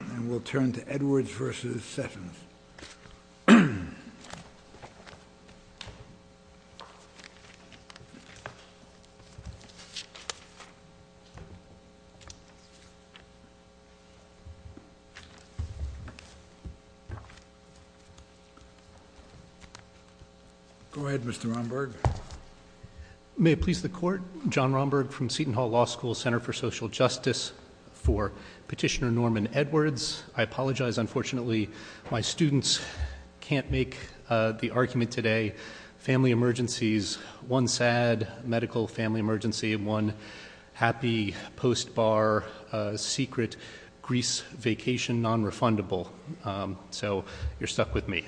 And we'll turn to Edwards v. Sessions. Go ahead, Mr. Romberg. May it please the Court, John Romberg from Seton Hall Law School, Center for Social Justice, for Petitioner Norman Edwards. I apologize, unfortunately, my students can't make the argument today. Family emergencies, one sad medical family emergency, one happy post-bar secret Greece vacation non-refundable. So, you're stuck with me.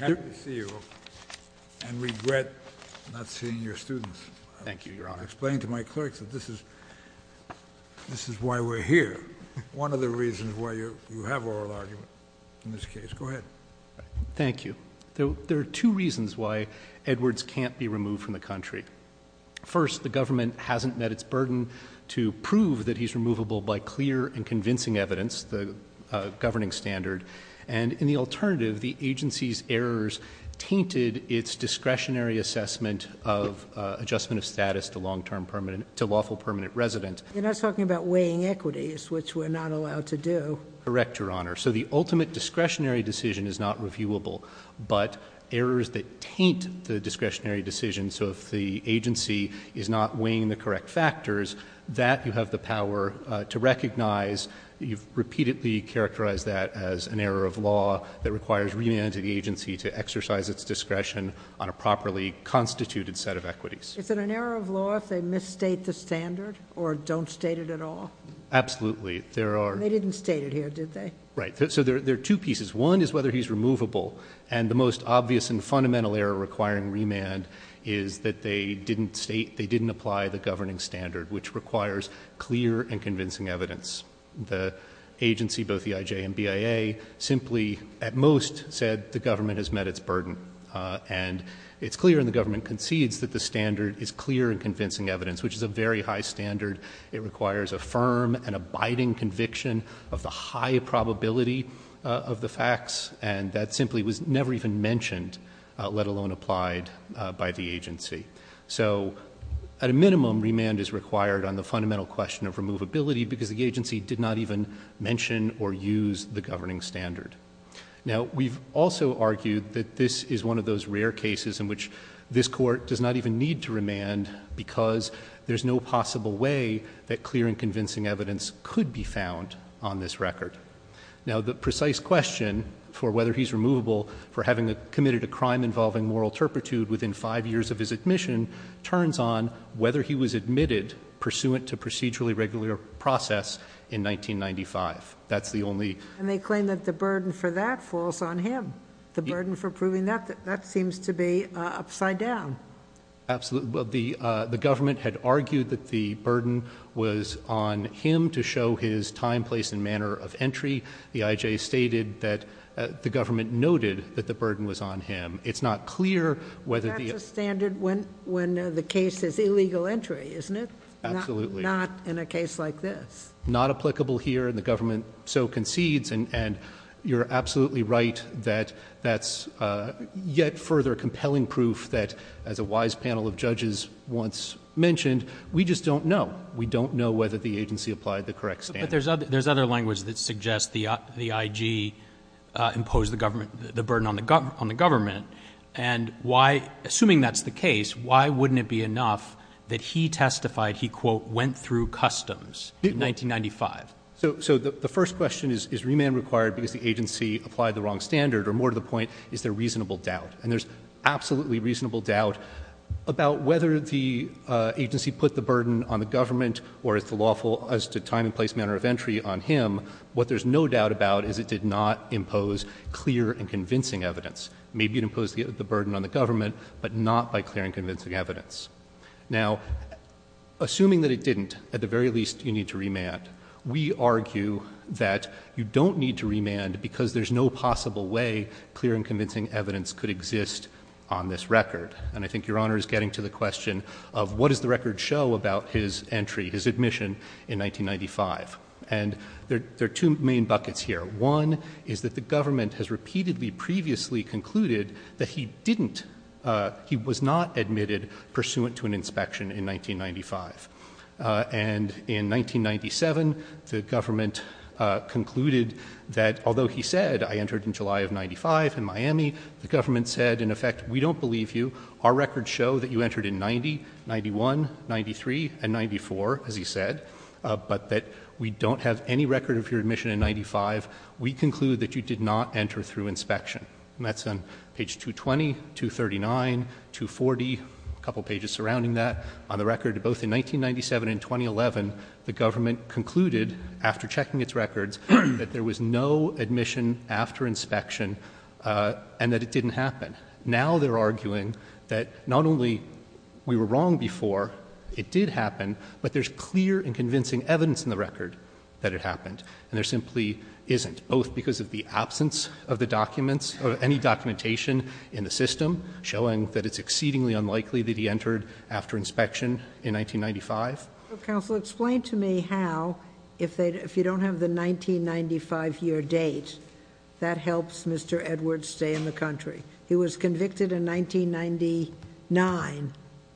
I'm happy to see you and regret not seeing your students. Thank you, Your Honor. I explained to my clerks that this is why we're here. One of the reasons why you have oral argument in this case. Go ahead. Thank you. There are two reasons why Edwards can't be removed from the country. First, the government hasn't met its burden to prove that he's removable by clear and convincing evidence, the governing standard. And in the alternative, the agency's errors tainted its discretionary assessment of adjustment of status to lawful permanent resident. You're not talking about weighing equities, which we're not allowed to do. Correct, Your Honor. So, the ultimate discretionary decision is not reviewable, but errors that taint the discretionary decision. So, if the agency is not weighing the correct factors, that you have the power to recognize. You've repeatedly characterized that as an error of law that requires remand to the agency to exercise its discretion on a properly constituted set of equities. Is it an error of law if they misstate the standard or don't state it at all? Absolutely. They didn't state it here, did they? Right. So, there are two pieces. One is whether he's removable, and the most obvious and fundamental error requiring remand is that they didn't state, they didn't apply the governing standard, which requires clear and convincing evidence. The agency, both the IJ and BIA, simply, at most, said the government has met its burden. And it's clear, and the government concedes, that the standard is clear and convincing evidence, which is a very high standard. It requires a firm and abiding conviction of the high probability of the facts, and that simply was never even mentioned, let alone applied by the agency. So, at a minimum, remand is required on the fundamental question of removability because the agency did not even mention or use the governing standard. Now, we've also argued that this is one of those rare cases in which this court does not even need to remand because there's no possible way that clear and convincing evidence could be found on this record. Now, the precise question for whether he's removable for having committed a crime involving moral turpitude within five years of his admission turns on whether he was admitted pursuant to procedurally regular process in 1995. That's the only- And they claim that the burden for that falls on him. The burden for proving that, that seems to be upside down. Absolutely. The government had argued that the burden was on him to show his time, place, and manner of entry. The IJ stated that the government noted that the burden was on him. It's not clear whether the- That's a standard when the case is illegal entry, isn't it? Absolutely. Not in a case like this. Not applicable here, and the government so concedes, and you're absolutely right that that's yet further compelling proof that, as a wise panel of judges once mentioned, we just don't know. We don't know whether the agency applied the correct standard. But there's other language that suggests the IG imposed the government, the burden on the government, and why, assuming that's the case, why wouldn't it be enough that he testified he, quote, went through customs in 1995? So the first question is, is remand required because the agency applied the wrong standard? Or more to the point, is there reasonable doubt? And there's absolutely reasonable doubt about whether the agency put the burden on the government or as to time and place manner of entry on him. What there's no doubt about is it did not impose clear and convincing evidence. Maybe it imposed the burden on the government, but not by clear and convincing evidence. Now, assuming that it didn't, at the very least, you need to remand. We argue that you don't need to remand because there's no possible way clear and convincing evidence could exist on this record. And I think Your Honor is getting to the question of what does the record show about his entry, his admission in 1995? And there are two main buckets here. One is that the government has repeatedly previously concluded that he didn't, he was not admitted pursuant to an inspection in 1995. And in 1997, the government concluded that although he said I entered in July of 95 in Miami, the government said, in effect, we don't believe you. Our records show that you entered in 90, 91, 93, and 94, as he said, but that we don't have any record of your admission in 95. We conclude that you did not enter through inspection. And that's on page 220, 239, 240, a couple pages surrounding that. On the record, both in 1997 and 2011, the government concluded, after checking its records, that there was no admission after inspection and that it didn't happen. Now they're arguing that not only we were wrong before, it did happen, but there's clear and convincing evidence in the record that it happened, and there simply isn't, both because of the absence of any documentation in the system showing that it's exceedingly unlikely that he entered after inspection in 1995. Counsel, explain to me how, if you don't have the 1995 year date, that helps Mr. Edwards stay in the country. He was convicted in 1999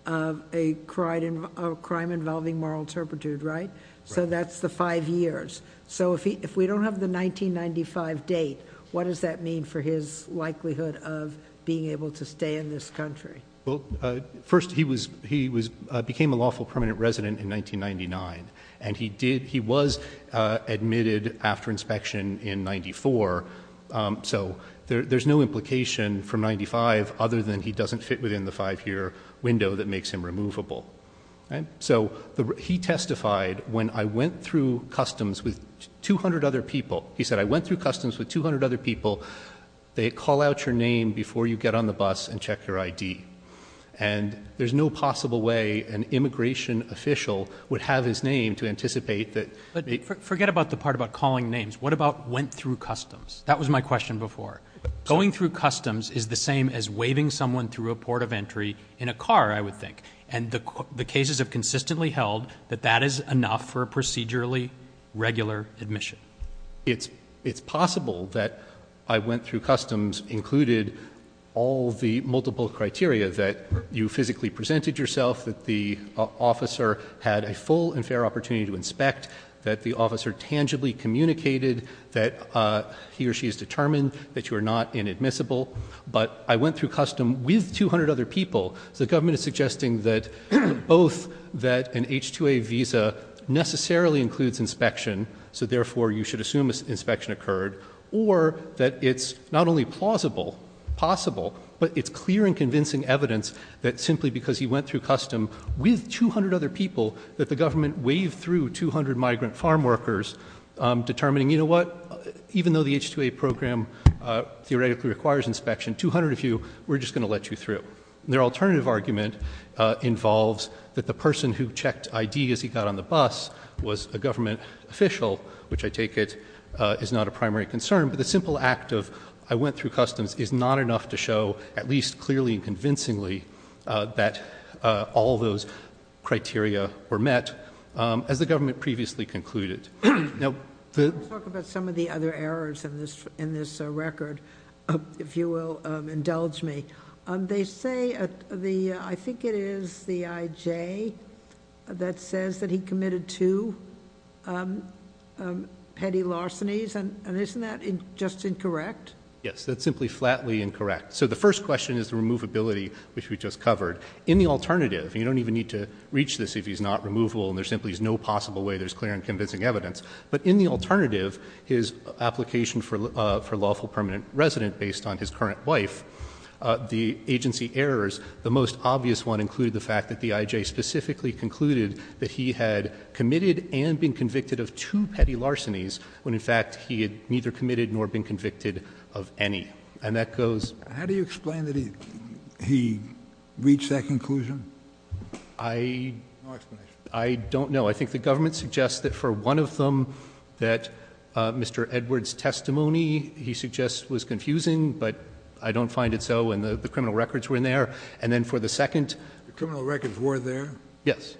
of a crime involving moral turpitude, right? Right. So that's the five years. So if we don't have the 1995 date, what does that mean for his likelihood of being able to stay in this country? Well, first, he became a lawful permanent resident in 1999, and he was admitted after inspection in 94, so there's no implication from 95 other than he doesn't fit within the five-year window that makes him removable. So he testified, when I went through customs with 200 other people, he said, I went through customs with 200 other people. They call out your name before you get on the bus and check your ID. And there's no possible way an immigration official would have his name to anticipate that. Forget about the part about calling names. What about went through customs? That was my question before. Going through customs is the same as waving someone through a port of entry in a car, I would think. And the cases have consistently held that that is enough for a procedurally regular admission. It's possible that I went through customs included all the multiple criteria, that you physically presented yourself, that the officer had a full and fair opportunity to inspect, that the officer tangibly communicated that he or she is determined, that you are not inadmissible. But I went through customs with 200 other people. So the government is suggesting that both that an H-2A visa necessarily includes inspection, so therefore you should assume inspection occurred, or that it's not only plausible, possible, but it's clear and convincing evidence that simply because he went through customs with 200 other people, that the government waved through 200 migrant farm workers, determining, you know what, even though the H-2A program theoretically requires inspection, 200 of you, we're just going to let you through. Their alternative argument involves that the person who checked I.D. as he got on the bus was a government official, which I take it is not a primary concern, but the simple act of I went through customs is not enough to show, at least clearly and convincingly, that all those criteria were met, as the government previously concluded. Let's talk about some of the other errors in this record, if you will indulge me. They say, I think it is the I.J. that says that he committed two petty larcenies, and isn't that just incorrect? Yes, that's simply flatly incorrect. So the first question is the removability, which we just covered. In the alternative, you don't even need to reach this if he's not removable, and there simply is no possible way there's clear and convincing evidence. But in the alternative, his application for lawful permanent resident based on his current wife, the agency errors, the most obvious one included the fact that the I.J. specifically concluded that he had committed and been convicted of two petty larcenies, when in fact he had neither committed nor been convicted of any. And that goes... How do you explain that he reached that conclusion? No explanation. I don't know. I think the government suggests that for one of them, that Mr. Edwards' testimony, he suggests, was confusing, but I don't find it so, and the criminal records were in there. And then for the second... The criminal records were there? Yes.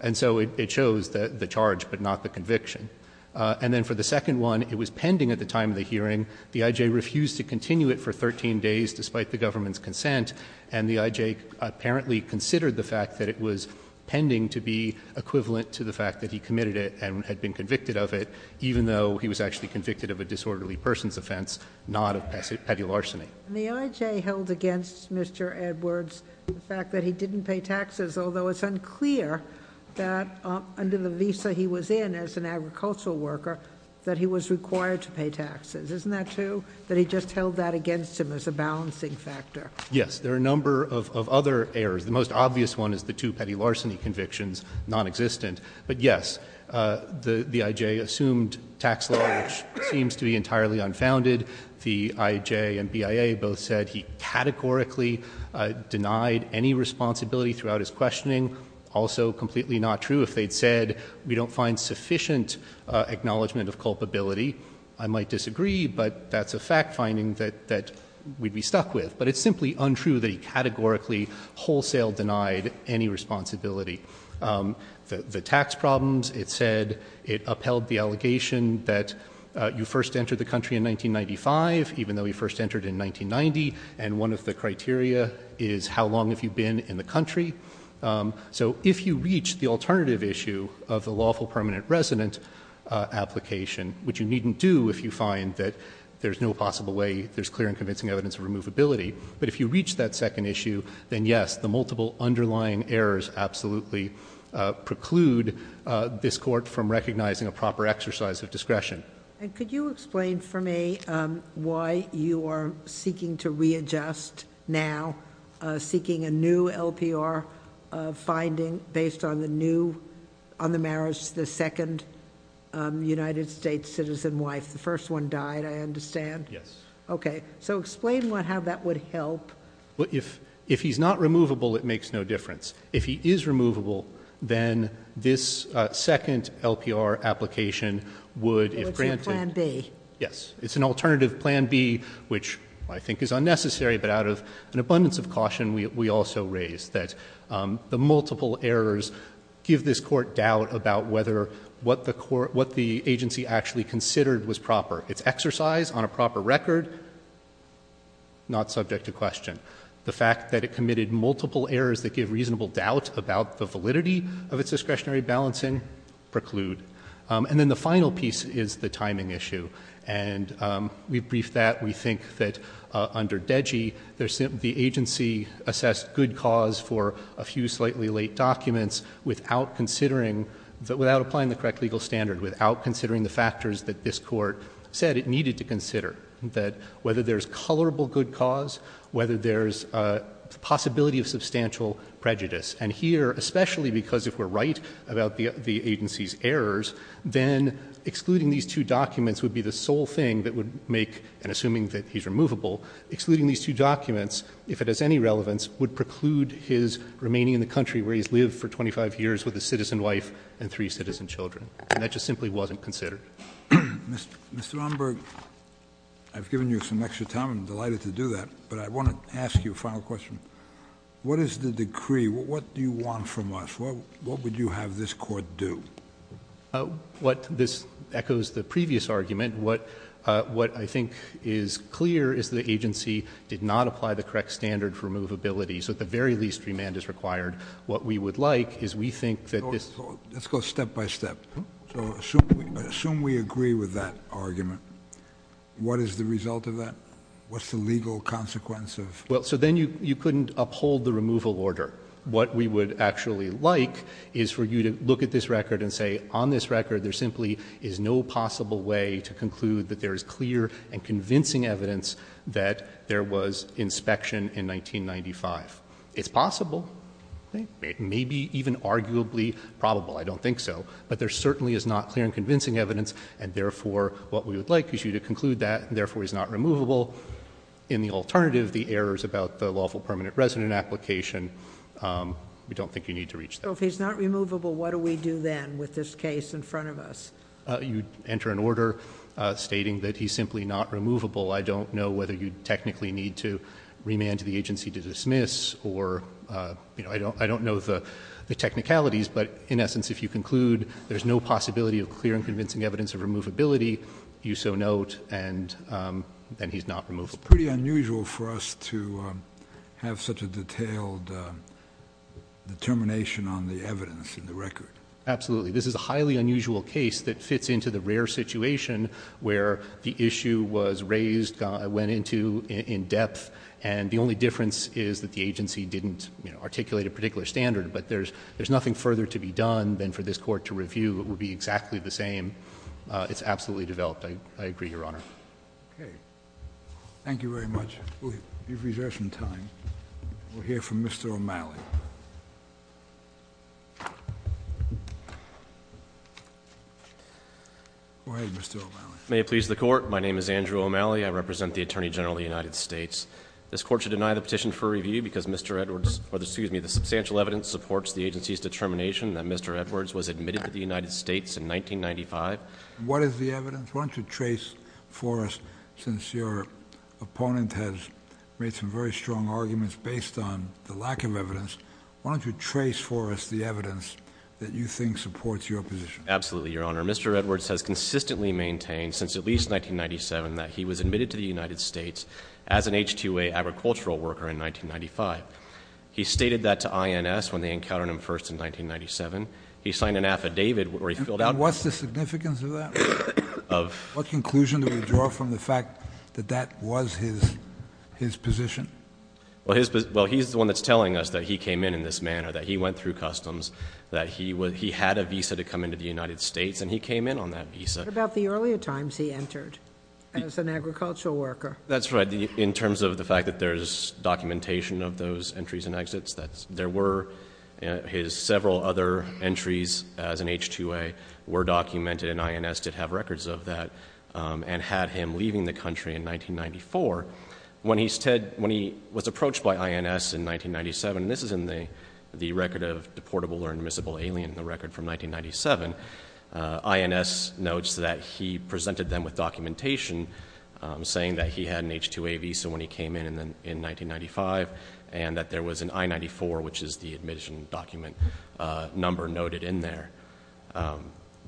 And so it shows the charge, but not the conviction. And then for the second one, it was pending at the time of the hearing. The I.J. refused to continue it for 13 days, despite the government's consent. And the I.J. apparently considered the fact that it was pending to be equivalent to the fact that he committed it and had been convicted of it, even though he was actually convicted of a disorderly person's offense, not of petty larceny. And the I.J. held against Mr. Edwards the fact that he didn't pay taxes, although it's unclear that under the visa he was in as an agricultural worker, that he was required to pay taxes. Isn't that true, that he just held that against him as a balancing factor? Yes. There are a number of other errors. The most obvious one is the two petty larceny convictions non-existent. But, yes, the I.J. assumed tax law, which seems to be entirely unfounded. The I.J. and BIA both said he categorically denied any responsibility throughout his questioning. Also completely not true if they'd said we don't find sufficient acknowledgement of culpability. I might disagree, but that's a fact-finding that we'd be stuck with. But it's simply untrue that he categorically wholesale denied any responsibility. The tax problems, it said, it upheld the allegation that you first entered the country in 1995, even though you first entered in 1990, and one of the criteria is how long have you been in the country. So if you reach the alternative issue of the lawful permanent resident application, which you needn't do if you find that there's no possible way there's clear and convincing evidence of removability, but if you reach that second issue, then, yes, the multiple underlying errors absolutely preclude this Court from recognizing a proper exercise of discretion. And could you explain for me why you are seeking to readjust now, why you are seeking a new LPR finding based on the new, on the marriage, the second United States citizen wife, the first one died, I understand? Yes. Okay. So explain how that would help. If he's not removable, it makes no difference. If he is removable, then this second LPR application would, if granted... Plan B. Yes. It's an alternative Plan B, which I think is unnecessary, but out of an abundance of caution, we also raise that the multiple errors give this Court doubt about whether what the agency actually considered was proper. Its exercise on a proper record, not subject to question. The fact that it committed multiple errors that give reasonable doubt about the validity of its discretionary balancing preclude. And then the final piece is the timing issue. And we've briefed that. We think that under DEGI, the agency assessed good cause for a few slightly late documents without considering, without applying the correct legal standard, without considering the factors that this Court said it needed to consider, that whether there's colorable good cause, whether there's a possibility of substantial prejudice. And here, especially because if we're right about the agency's errors, then excluding these two documents would be the sole thing that would make, and assuming that he's removable, excluding these two documents, if it has any relevance, would preclude his remaining in the country where he's lived for 25 years with a citizen wife and three citizen children. And that just simply wasn't considered. Mr. Romberg, I've given you some extra time. I'm delighted to do that. But I want to ask you a final question. What is the decree? What do you want from us? What would you have this Court do? What this echoes the previous argument, what I think is clear is the agency did not apply the correct standard for removability. So at the very least, remand is required. What we would like is we think that this ---- Let's go step by step. So assume we agree with that argument. What is the result of that? What's the legal consequence of ---- Well, so then you couldn't uphold the removal order. What we would actually like is for you to look at this record and say, on this record there simply is no possible way to conclude that there is clear and convincing evidence that there was inspection in 1995. It's possible. It may be even arguably probable. I don't think so. But there certainly is not clear and convincing evidence, and therefore what we would like is you to conclude that, therefore he's not removable. In the alternative, the errors about the lawful permanent resident application, we don't think you need to reach that. So if he's not removable, what do we do then with this case in front of us? You enter an order stating that he's simply not removable. I don't know whether you technically need to remand the agency to dismiss or, you know, I don't know the technicalities, but in essence if you conclude there's no possibility of clear and convincing evidence of removability, you so note, and then he's not removable. It's pretty unusual for us to have such a detailed determination on the evidence in the record. Absolutely. This is a highly unusual case that fits into the rare situation where the issue was raised, went into in depth, and the only difference is that the agency didn't articulate a particular standard, but there's nothing further to be done than for this Court to review. It would be exactly the same. It's absolutely developed. I agree, Your Honor. Okay. Thank you very much. We have recession time. We'll hear from Mr. O'Malley. Go ahead, Mr. O'Malley. May it please the Court. My name is Andrew O'Malley. I represent the Attorney General of the United States. This Court should deny the petition for review because Mr. Edwards, or excuse me, the substantial evidence supports the agency's determination that Mr. Edwards was admitted to the United States in 1995. What is the evidence? Why don't you trace for us, since your opponent has made some very strong arguments based on the lack of evidence, why don't you trace for us the evidence that you think supports your position? Absolutely, Your Honor. Mr. Edwards has consistently maintained, since at least 1997, that he was admitted to the United States as an H-2A agricultural worker in 1995. He stated that to INS when they encountered him first in 1997. He signed an affidavit where he filled out. And what's the significance of that? Of? What conclusion do we draw from the fact that that was his position? Well, he's the one that's telling us that he came in in this manner, that he went through customs, that he had a visa to come into the United States, and he came in on that visa. What about the earlier times he entered as an agricultural worker? That's right. In terms of the fact that there's documentation of those entries and exits, there were his several other entries as an H-2A were documented, and INS did have records of that and had him leaving the country in 1994. When he was approached by INS in 1997, and this is in the record of deportable or admissible alien, the record from 1997, INS notes that he presented them with documentation saying that he had an H-2A visa when he came in in 1995 and that there was an I-94, which is the admission document number noted in there.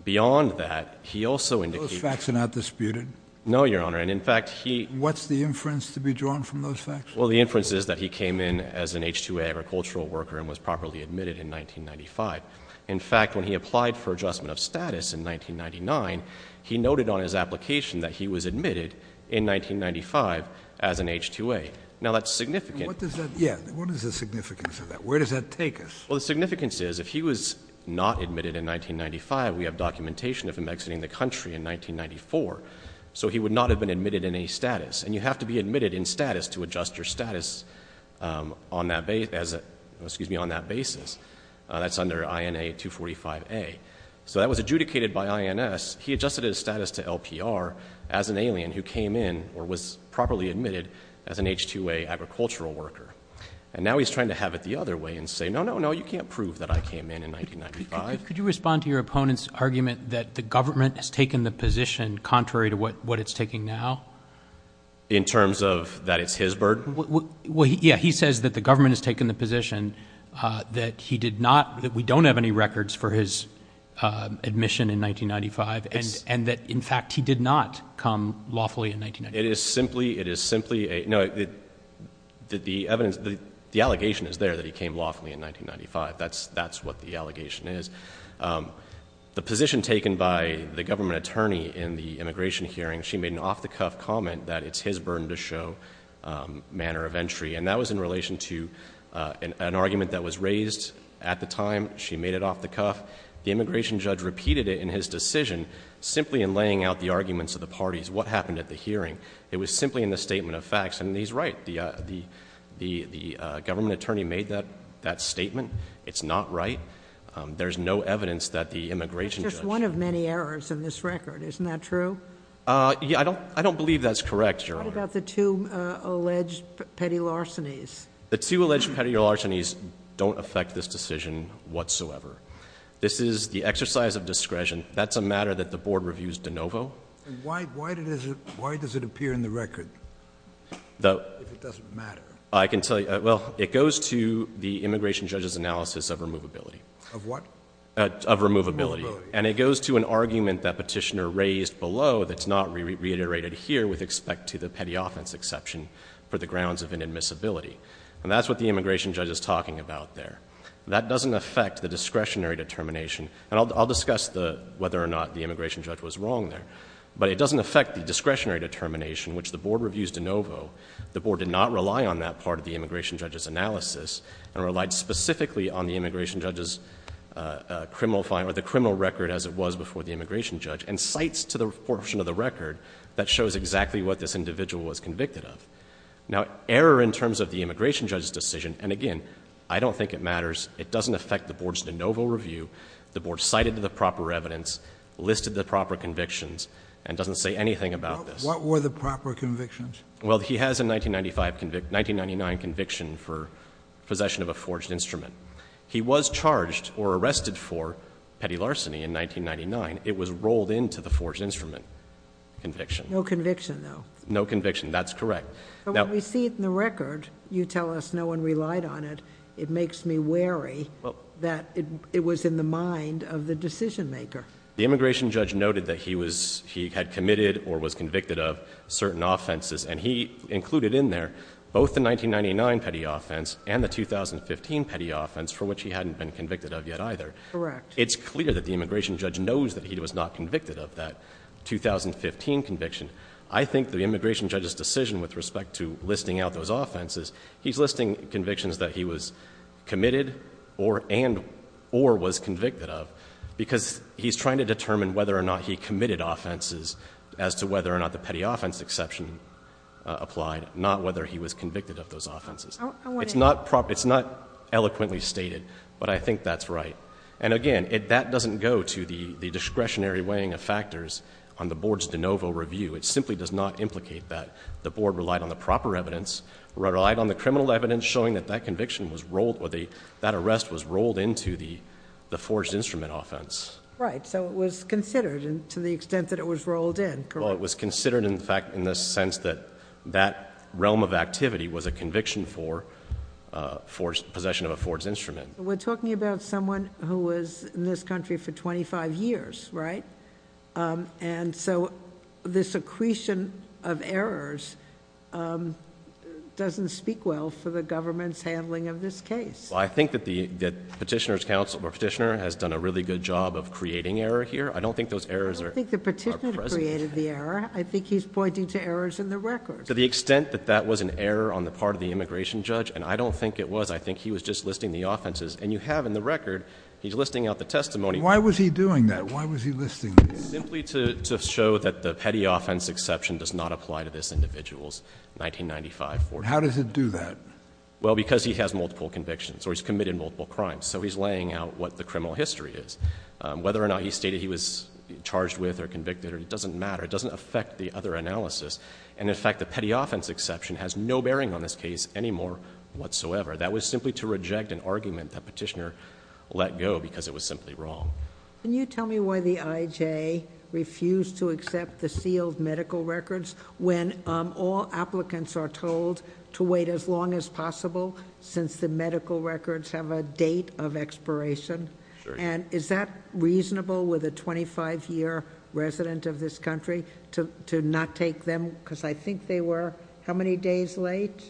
Beyond that, he also indicates... Those facts are not disputed? No, Your Honor. And in fact, he... What's the inference to be drawn from those facts? Well, the inference is that he came in as an H-2A agricultural worker and was properly admitted in 1995. In fact, when he applied for adjustment of status in 1999, he noted on his application that he was admitted in 1995 as an H-2A. Now, that's significant. What is the significance of that? Where does that take us? Well, the significance is if he was not admitted in 1995, we have documentation of him exiting the country in 1994, so he would not have been admitted in a status. And you have to be admitted in status to adjust your status on that basis. That's under INA 245A. So that was adjudicated by INS. He adjusted his status to LPR as an alien who came in or was properly admitted as an H-2A agricultural worker. And now he's trying to have it the other way and say, no, no, no, you can't prove that I came in in 1995. Could you respond to your opponent's argument that the government has taken the position contrary to what it's taking now? In terms of that it's his burden? Well, yeah. He says that the government has taken the position that he did not... And that, in fact, he did not come lawfully in 1995. It is simply a... no, the evidence, the allegation is there that he came lawfully in 1995. That's what the allegation is. The position taken by the government attorney in the immigration hearing, she made an off-the-cuff comment that it's his burden to show manner of entry, and that was in relation to an argument that was raised at the time. She made it off-the-cuff. The immigration judge repeated it in his decision simply in laying out the arguments of the parties. What happened at the hearing? It was simply in the statement of facts. And he's right. The government attorney made that statement. It's not right. There's no evidence that the immigration judge... That's just one of many errors in this record. Isn't that true? I don't believe that's correct, Your Honor. What about the two alleged petty larcenies? The two alleged petty larcenies don't affect this decision whatsoever. This is the exercise of discretion. That's a matter that the Board reviews de novo. Why does it appear in the record if it doesn't matter? I can tell you. Well, it goes to the immigration judge's analysis of removability. Of what? Of removability. And it goes to an argument that Petitioner raised below that's not reiterated here with respect to the petty offense exception for the grounds of inadmissibility. And that's what the immigration judge is talking about there. That doesn't affect the discretionary determination. And I'll discuss whether or not the immigration judge was wrong there. But it doesn't affect the discretionary determination, which the Board reviews de novo. The Board did not rely on that part of the immigration judge's analysis and relied specifically on the immigration judge's criminal record as it was before the immigration judge and cites to the portion of the record that shows exactly what this individual was convicted of. Now, error in terms of the immigration judge's decision... It doesn't affect the Board's de novo review. The Board cited the proper evidence, listed the proper convictions, and doesn't say anything about this. What were the proper convictions? Well, he has a 1995 conviction, 1999 conviction for possession of a forged instrument. He was charged or arrested for petty larceny in 1999. It was rolled into the forged instrument conviction. No conviction, though. No conviction. That's correct. But when we see it in the record, you tell us no one relied on it. It makes me wary that it was in the mind of the decision-maker. The immigration judge noted that he had committed or was convicted of certain offenses, and he included in there both the 1999 petty offense and the 2015 petty offense, for which he hadn't been convicted of yet either. Correct. It's clear that the immigration judge knows that he was not convicted of that 2015 conviction. I think the immigration judge's decision with respect to listing out those offenses, he's listing convictions that he was committed and or was convicted of, because he's trying to determine whether or not he committed offenses as to whether or not the petty offense exception applied, not whether he was convicted of those offenses. It's not eloquently stated, but I think that's right. And again, that doesn't go to the discretionary weighing of factors on the Board's de novo review. It simply does not implicate that. The Board relied on the proper evidence, relied on the criminal evidence showing that that conviction was rolled, that arrest was rolled into the forged instrument offense. Right. So it was considered to the extent that it was rolled in. Correct. Well, it was considered in the sense that that realm of activity was a conviction for possession of a forged instrument. We're talking about someone who was in this country for 25 years, right? And so this accretion of errors doesn't speak well for the government's handling of this case. Well, I think that the petitioner's counsel or petitioner has done a really good job of creating error here. I don't think those errors are present. I don't think the petitioner created the error. I think he's pointing to errors in the record. To the extent that that was an error on the part of the immigration judge, and I don't think it was, I think he was just listing the offenses. And you have in the record, he's listing out the testimony. Why was he doing that? Why was he listing these? Simply to show that the petty offense exception does not apply to this individual's 1995 forgery. How does it do that? Well, because he has multiple convictions, or he's committed multiple crimes. So he's laying out what the criminal history is. Whether or not he stated he was charged with or convicted, it doesn't matter. It doesn't affect the other analysis. And, in fact, the petty offense exception has no bearing on this case anymore whatsoever. That was simply to reject an argument that petitioner let go because it was simply wrong. Can you tell me why the IJ refused to accept the sealed medical records when all applicants are told to wait as long as possible since the medical records have a date of expiration? Sure. And is that reasonable with a 25-year resident of this country to not take them? Because I think they were how many days late?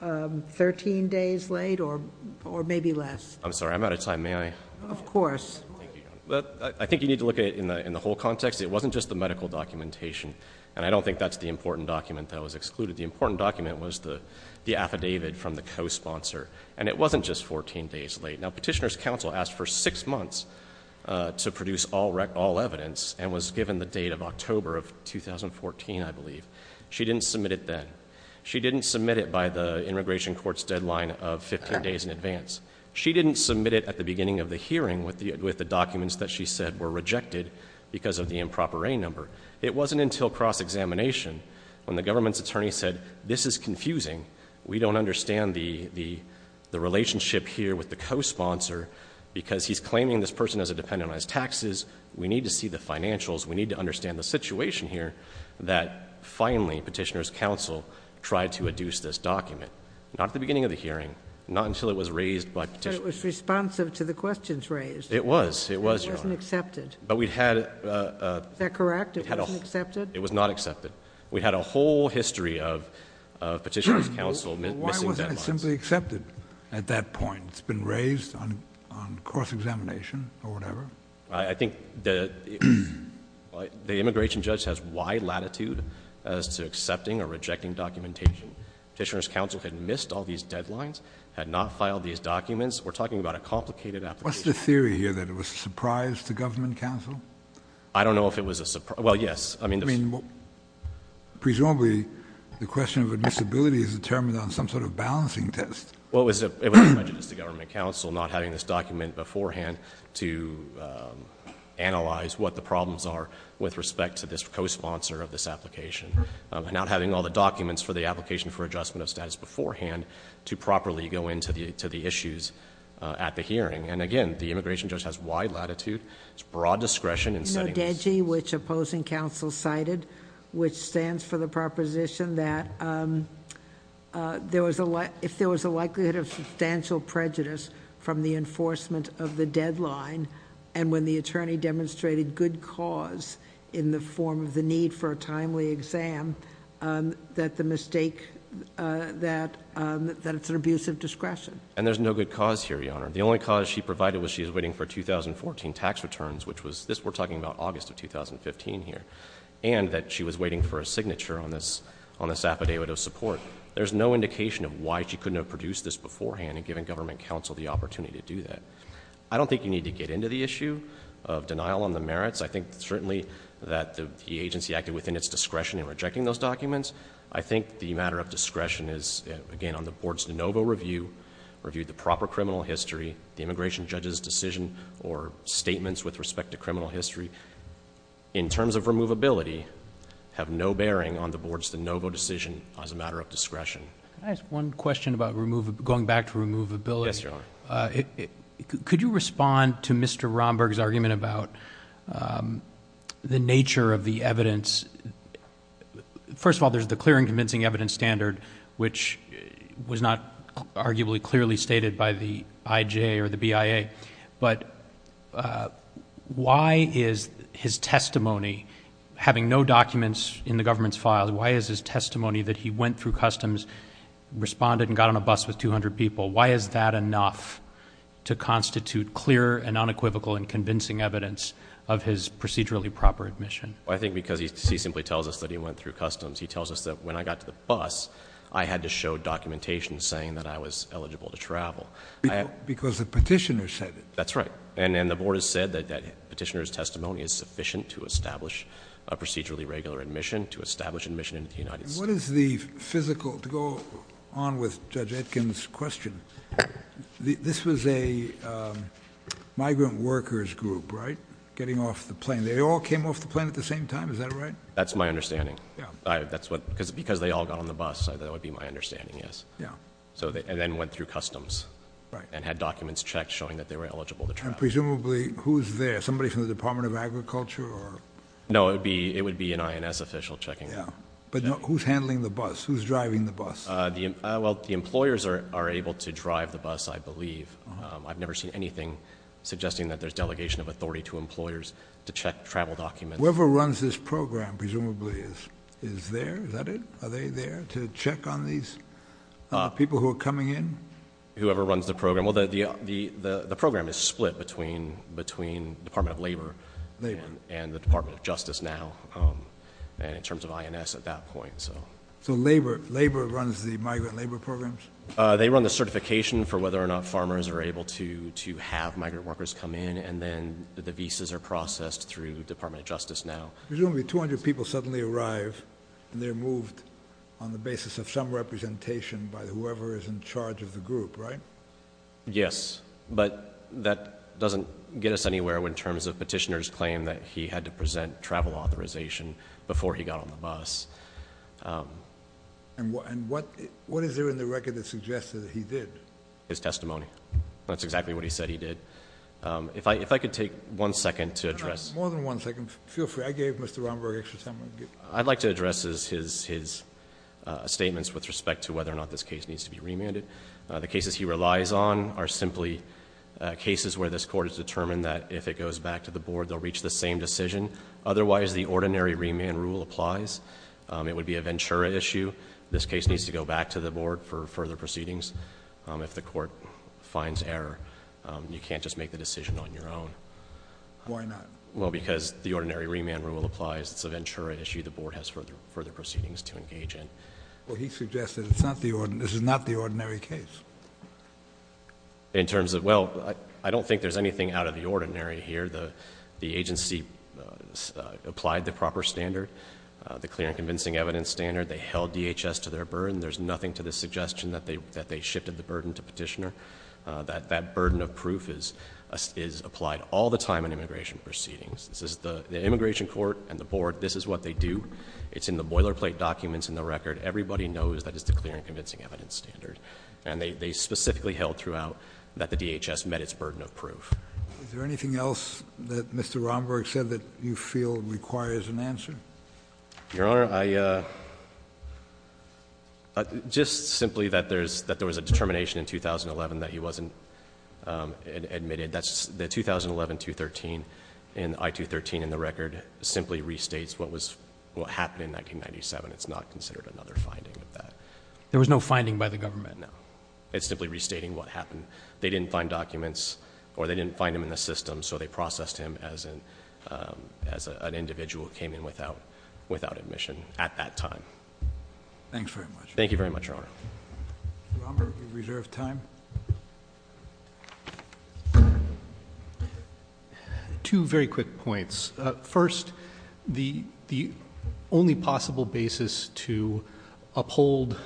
13 days late or maybe less? I'm sorry. I'm out of time. May I? Of course. I think you need to look at it in the whole context. It wasn't just the medical documentation. And I don't think that's the important document that was excluded. The important document was the affidavit from the co-sponsor. And it wasn't just 14 days late. Now, Petitioner's counsel asked for six months to produce all evidence and was given the date of October of 2014, I believe. She didn't submit it then. She didn't submit it by the immigration court's deadline of 15 days in advance. She didn't submit it at the beginning of the hearing with the documents that she said were rejected because of the improper A number. It wasn't until cross-examination when the government's attorney said, this is confusing. We don't understand the relationship here with the co-sponsor because he's claiming this person as a dependent on his taxes. We need to see the financials. We need to understand the situation here that finally Petitioner's counsel tried to adduce this document. Not at the beginning of the hearing. Not until it was raised by Petitioner's counsel. But it was responsive to the questions raised. It was, Your Honor. It wasn't accepted. Is that correct? It wasn't accepted? It was not accepted. We had a whole history of Petitioner's counsel missing deadlines. Why wasn't it simply accepted at that point? It's been raised on cross-examination or whatever? I think the immigration judge has wide latitude as to accepting or rejecting documentation. Petitioner's counsel had missed all these deadlines, had not filed these documents. We're talking about a complicated application. What's the theory here, that it was a surprise to government counsel? I don't know if it was a surprise. Well, yes. I mean, presumably the question of admissibility is determined on some sort of balancing test. Well, it was a prejudice to government counsel not having this document beforehand to analyze what the problems are with respect to this co-sponsor of this application. And not having all the documents for the application for adjustment of status beforehand to properly go into the issues at the hearing. And, again, the immigration judge has wide latitude. There's broad discretion in setting this. Modegi, which opposing counsel cited, which stands for the proposition that if there was a likelihood of substantial prejudice from the enforcement of the deadline, and when the attorney demonstrated good cause in the form of the need for a timely exam, that the mistake, that it's an abuse of discretion. And there's no good cause here, Your Honor. The only cause she provided was she was waiting for 2014 tax returns, which we're talking about August of 2015 here, and that she was waiting for a signature on this affidavit of support. There's no indication of why she couldn't have produced this beforehand and given government counsel the opportunity to do that. I don't think you need to get into the issue of denial on the merits. I think certainly that the agency acted within its discretion in rejecting those documents. I think the matter of discretion is, again, on the Board's de novo review, reviewed the proper criminal history, the immigration judge's decision or statements with respect to criminal history, in terms of removability, have no bearing on the Board's de novo decision as a matter of discretion. Can I ask one question about going back to removability? Yes, Your Honor. Could you respond to Mr. Romberg's argument about the nature of the evidence? First of all, there's the clear and convincing evidence standard, which was not arguably clearly stated by the IJ or the BIA, but why is his testimony, having no documents in the government's files, why is his testimony that he went through customs, responded, and got on a bus with 200 people, why is that enough to constitute clear and unequivocal and convincing evidence of his procedurally proper admission? I think because he simply tells us that he went through customs. He tells us that when I got to the bus, I had to show documentation saying that I was eligible to travel. Because the petitioner said it. That's right. And the Board has said that the petitioner's testimony is sufficient to establish a procedurally regular admission, to establish admission into the United States. What is the physical, to go on with Judge Etkin's question, this was a migrant workers group, right, getting off the plane. They all came off the plane at the same time, is that right? That's my understanding. Because they all got on the bus, that would be my understanding, yes. And then went through customs and had documents checked showing that they were eligible to travel. Presumably, who's there? Somebody from the Department of Agriculture? No, it would be an INS official checking. But who's handling the bus? Who's driving the bus? Well, the employers are able to drive the bus, I believe. I've never seen anything suggesting that there's delegation of authority to employers to check travel documents. Whoever runs this program, presumably, is there? Is that it? Are they there to check on these people who are coming in? Whoever runs the program. Well, the program is split between the Department of Labor and the Department of Justice now. And in terms of INS at that point. So Labor runs the migrant labor programs? They run the certification for whether or not farmers are able to have migrant workers come in. And then the visas are processed through the Department of Justice now. Presumably, 200 people suddenly arrive and they're moved on the basis of some representation by whoever is in charge of the group, right? Yes. But that doesn't get us anywhere in terms of Petitioner's claim that he had to present travel authorization before he got on the bus. And what is there in the record that suggests that he did? His testimony. That's exactly what he said he did. If I could take one second to address. No, no. More than one second. Feel free. I gave Mr. Romberg extra time. I'd like to address his statements with respect to whether or not this case needs to be remanded. The cases he relies on are simply cases where this court has determined that if it goes back to the board, they'll reach the same decision. Otherwise, the ordinary remand rule applies. It would be a Ventura issue. This case needs to go back to the board for further proceedings. If the court finds error, you can't just make the decision on your own. Why not? Well, because the ordinary remand rule applies. It's a Ventura issue. The board has further proceedings to engage in. Well, he suggested this is not the ordinary case. In terms of, well, I don't think there's anything out of the ordinary here. The agency applied the proper standard, the clear and convincing evidence standard. They held DHS to their burden. There's nothing to the suggestion that they shifted the burden to Petitioner. That burden of proof is applied all the time in immigration proceedings. The immigration court and the board, this is what they do. It's in the boilerplate documents in the record. Everybody knows that it's the clear and convincing evidence standard. And they specifically held throughout that the DHS met its burden of proof. Is there anything else that Mr. Romberg said that you feel requires an answer? Your Honor, just simply that there was a determination in 2011 that he wasn't admitted. The 2011 I-213 in the record simply restates what happened in 1997. It's not considered another finding of that. There was no finding by the government? No. It's simply restating what happened. They didn't find documents or they didn't find him in the system, so they processed him as an individual who came in without admission at that time. Thanks very much. Thank you very much, Your Honor. Mr. Romberg, we reserve time. Two very quick points. First, the only possible basis to uphold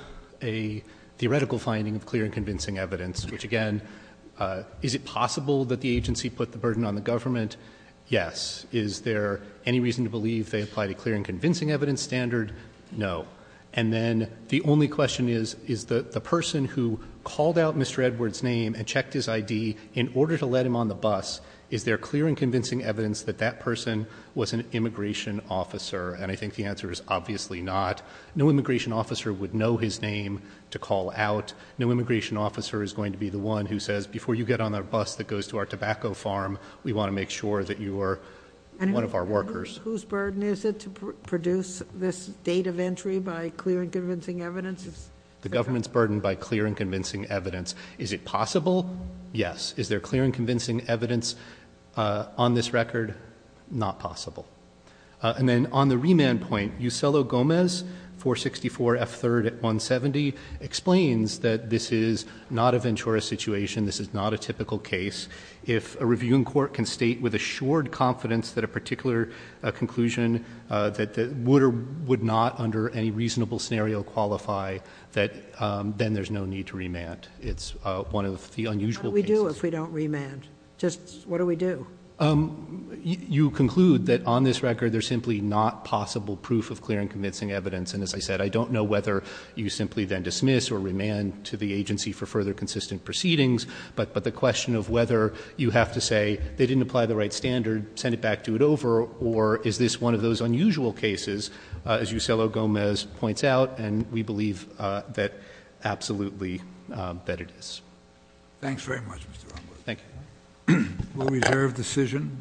a theoretical finding of clear and convincing evidence, which, again, is it possible that the agency put the burden on the government? Yes. Is there any reason to believe they applied a clear and convincing evidence standard? No. And then the only question is, is the person who called out Mr. Edward's name and checked his ID in order to let him on the bus, is there clear and convincing evidence that that person was an immigration officer? And I think the answer is obviously not. No immigration officer would know his name to call out. No immigration officer is going to be the one who says, before you get on the bus that goes to our tobacco farm, we want to make sure that you are one of our workers. Whose burden is it to produce this date of entry by clear and convincing evidence? The government's burden by clear and convincing evidence. Is it possible? Yes. Is there clear and convincing evidence on this record? Not possible. And then on the remand point, Uselo-Gomez, 464 F. 3rd at 170, explains that this is not a Ventura situation, this is not a typical case. If a reviewing court can state with assured confidence that a particular conclusion that would or would not under any reasonable scenario qualify, then there's no need to remand. It's one of the unusual cases. What do we do if we don't remand? Just what do we do? You conclude that on this record there's simply not possible proof of clear and convincing evidence. And as I said, I don't know whether you simply then dismiss or remand to the agency for further consistent proceedings. But the question of whether you have to say they didn't apply the right standard, send it back, do it over, or is this one of those unusual cases, as Uselo-Gomez points out, and we believe that absolutely that it is. Thanks very much, Mr. Unglert. Thank you. We'll reserve decision.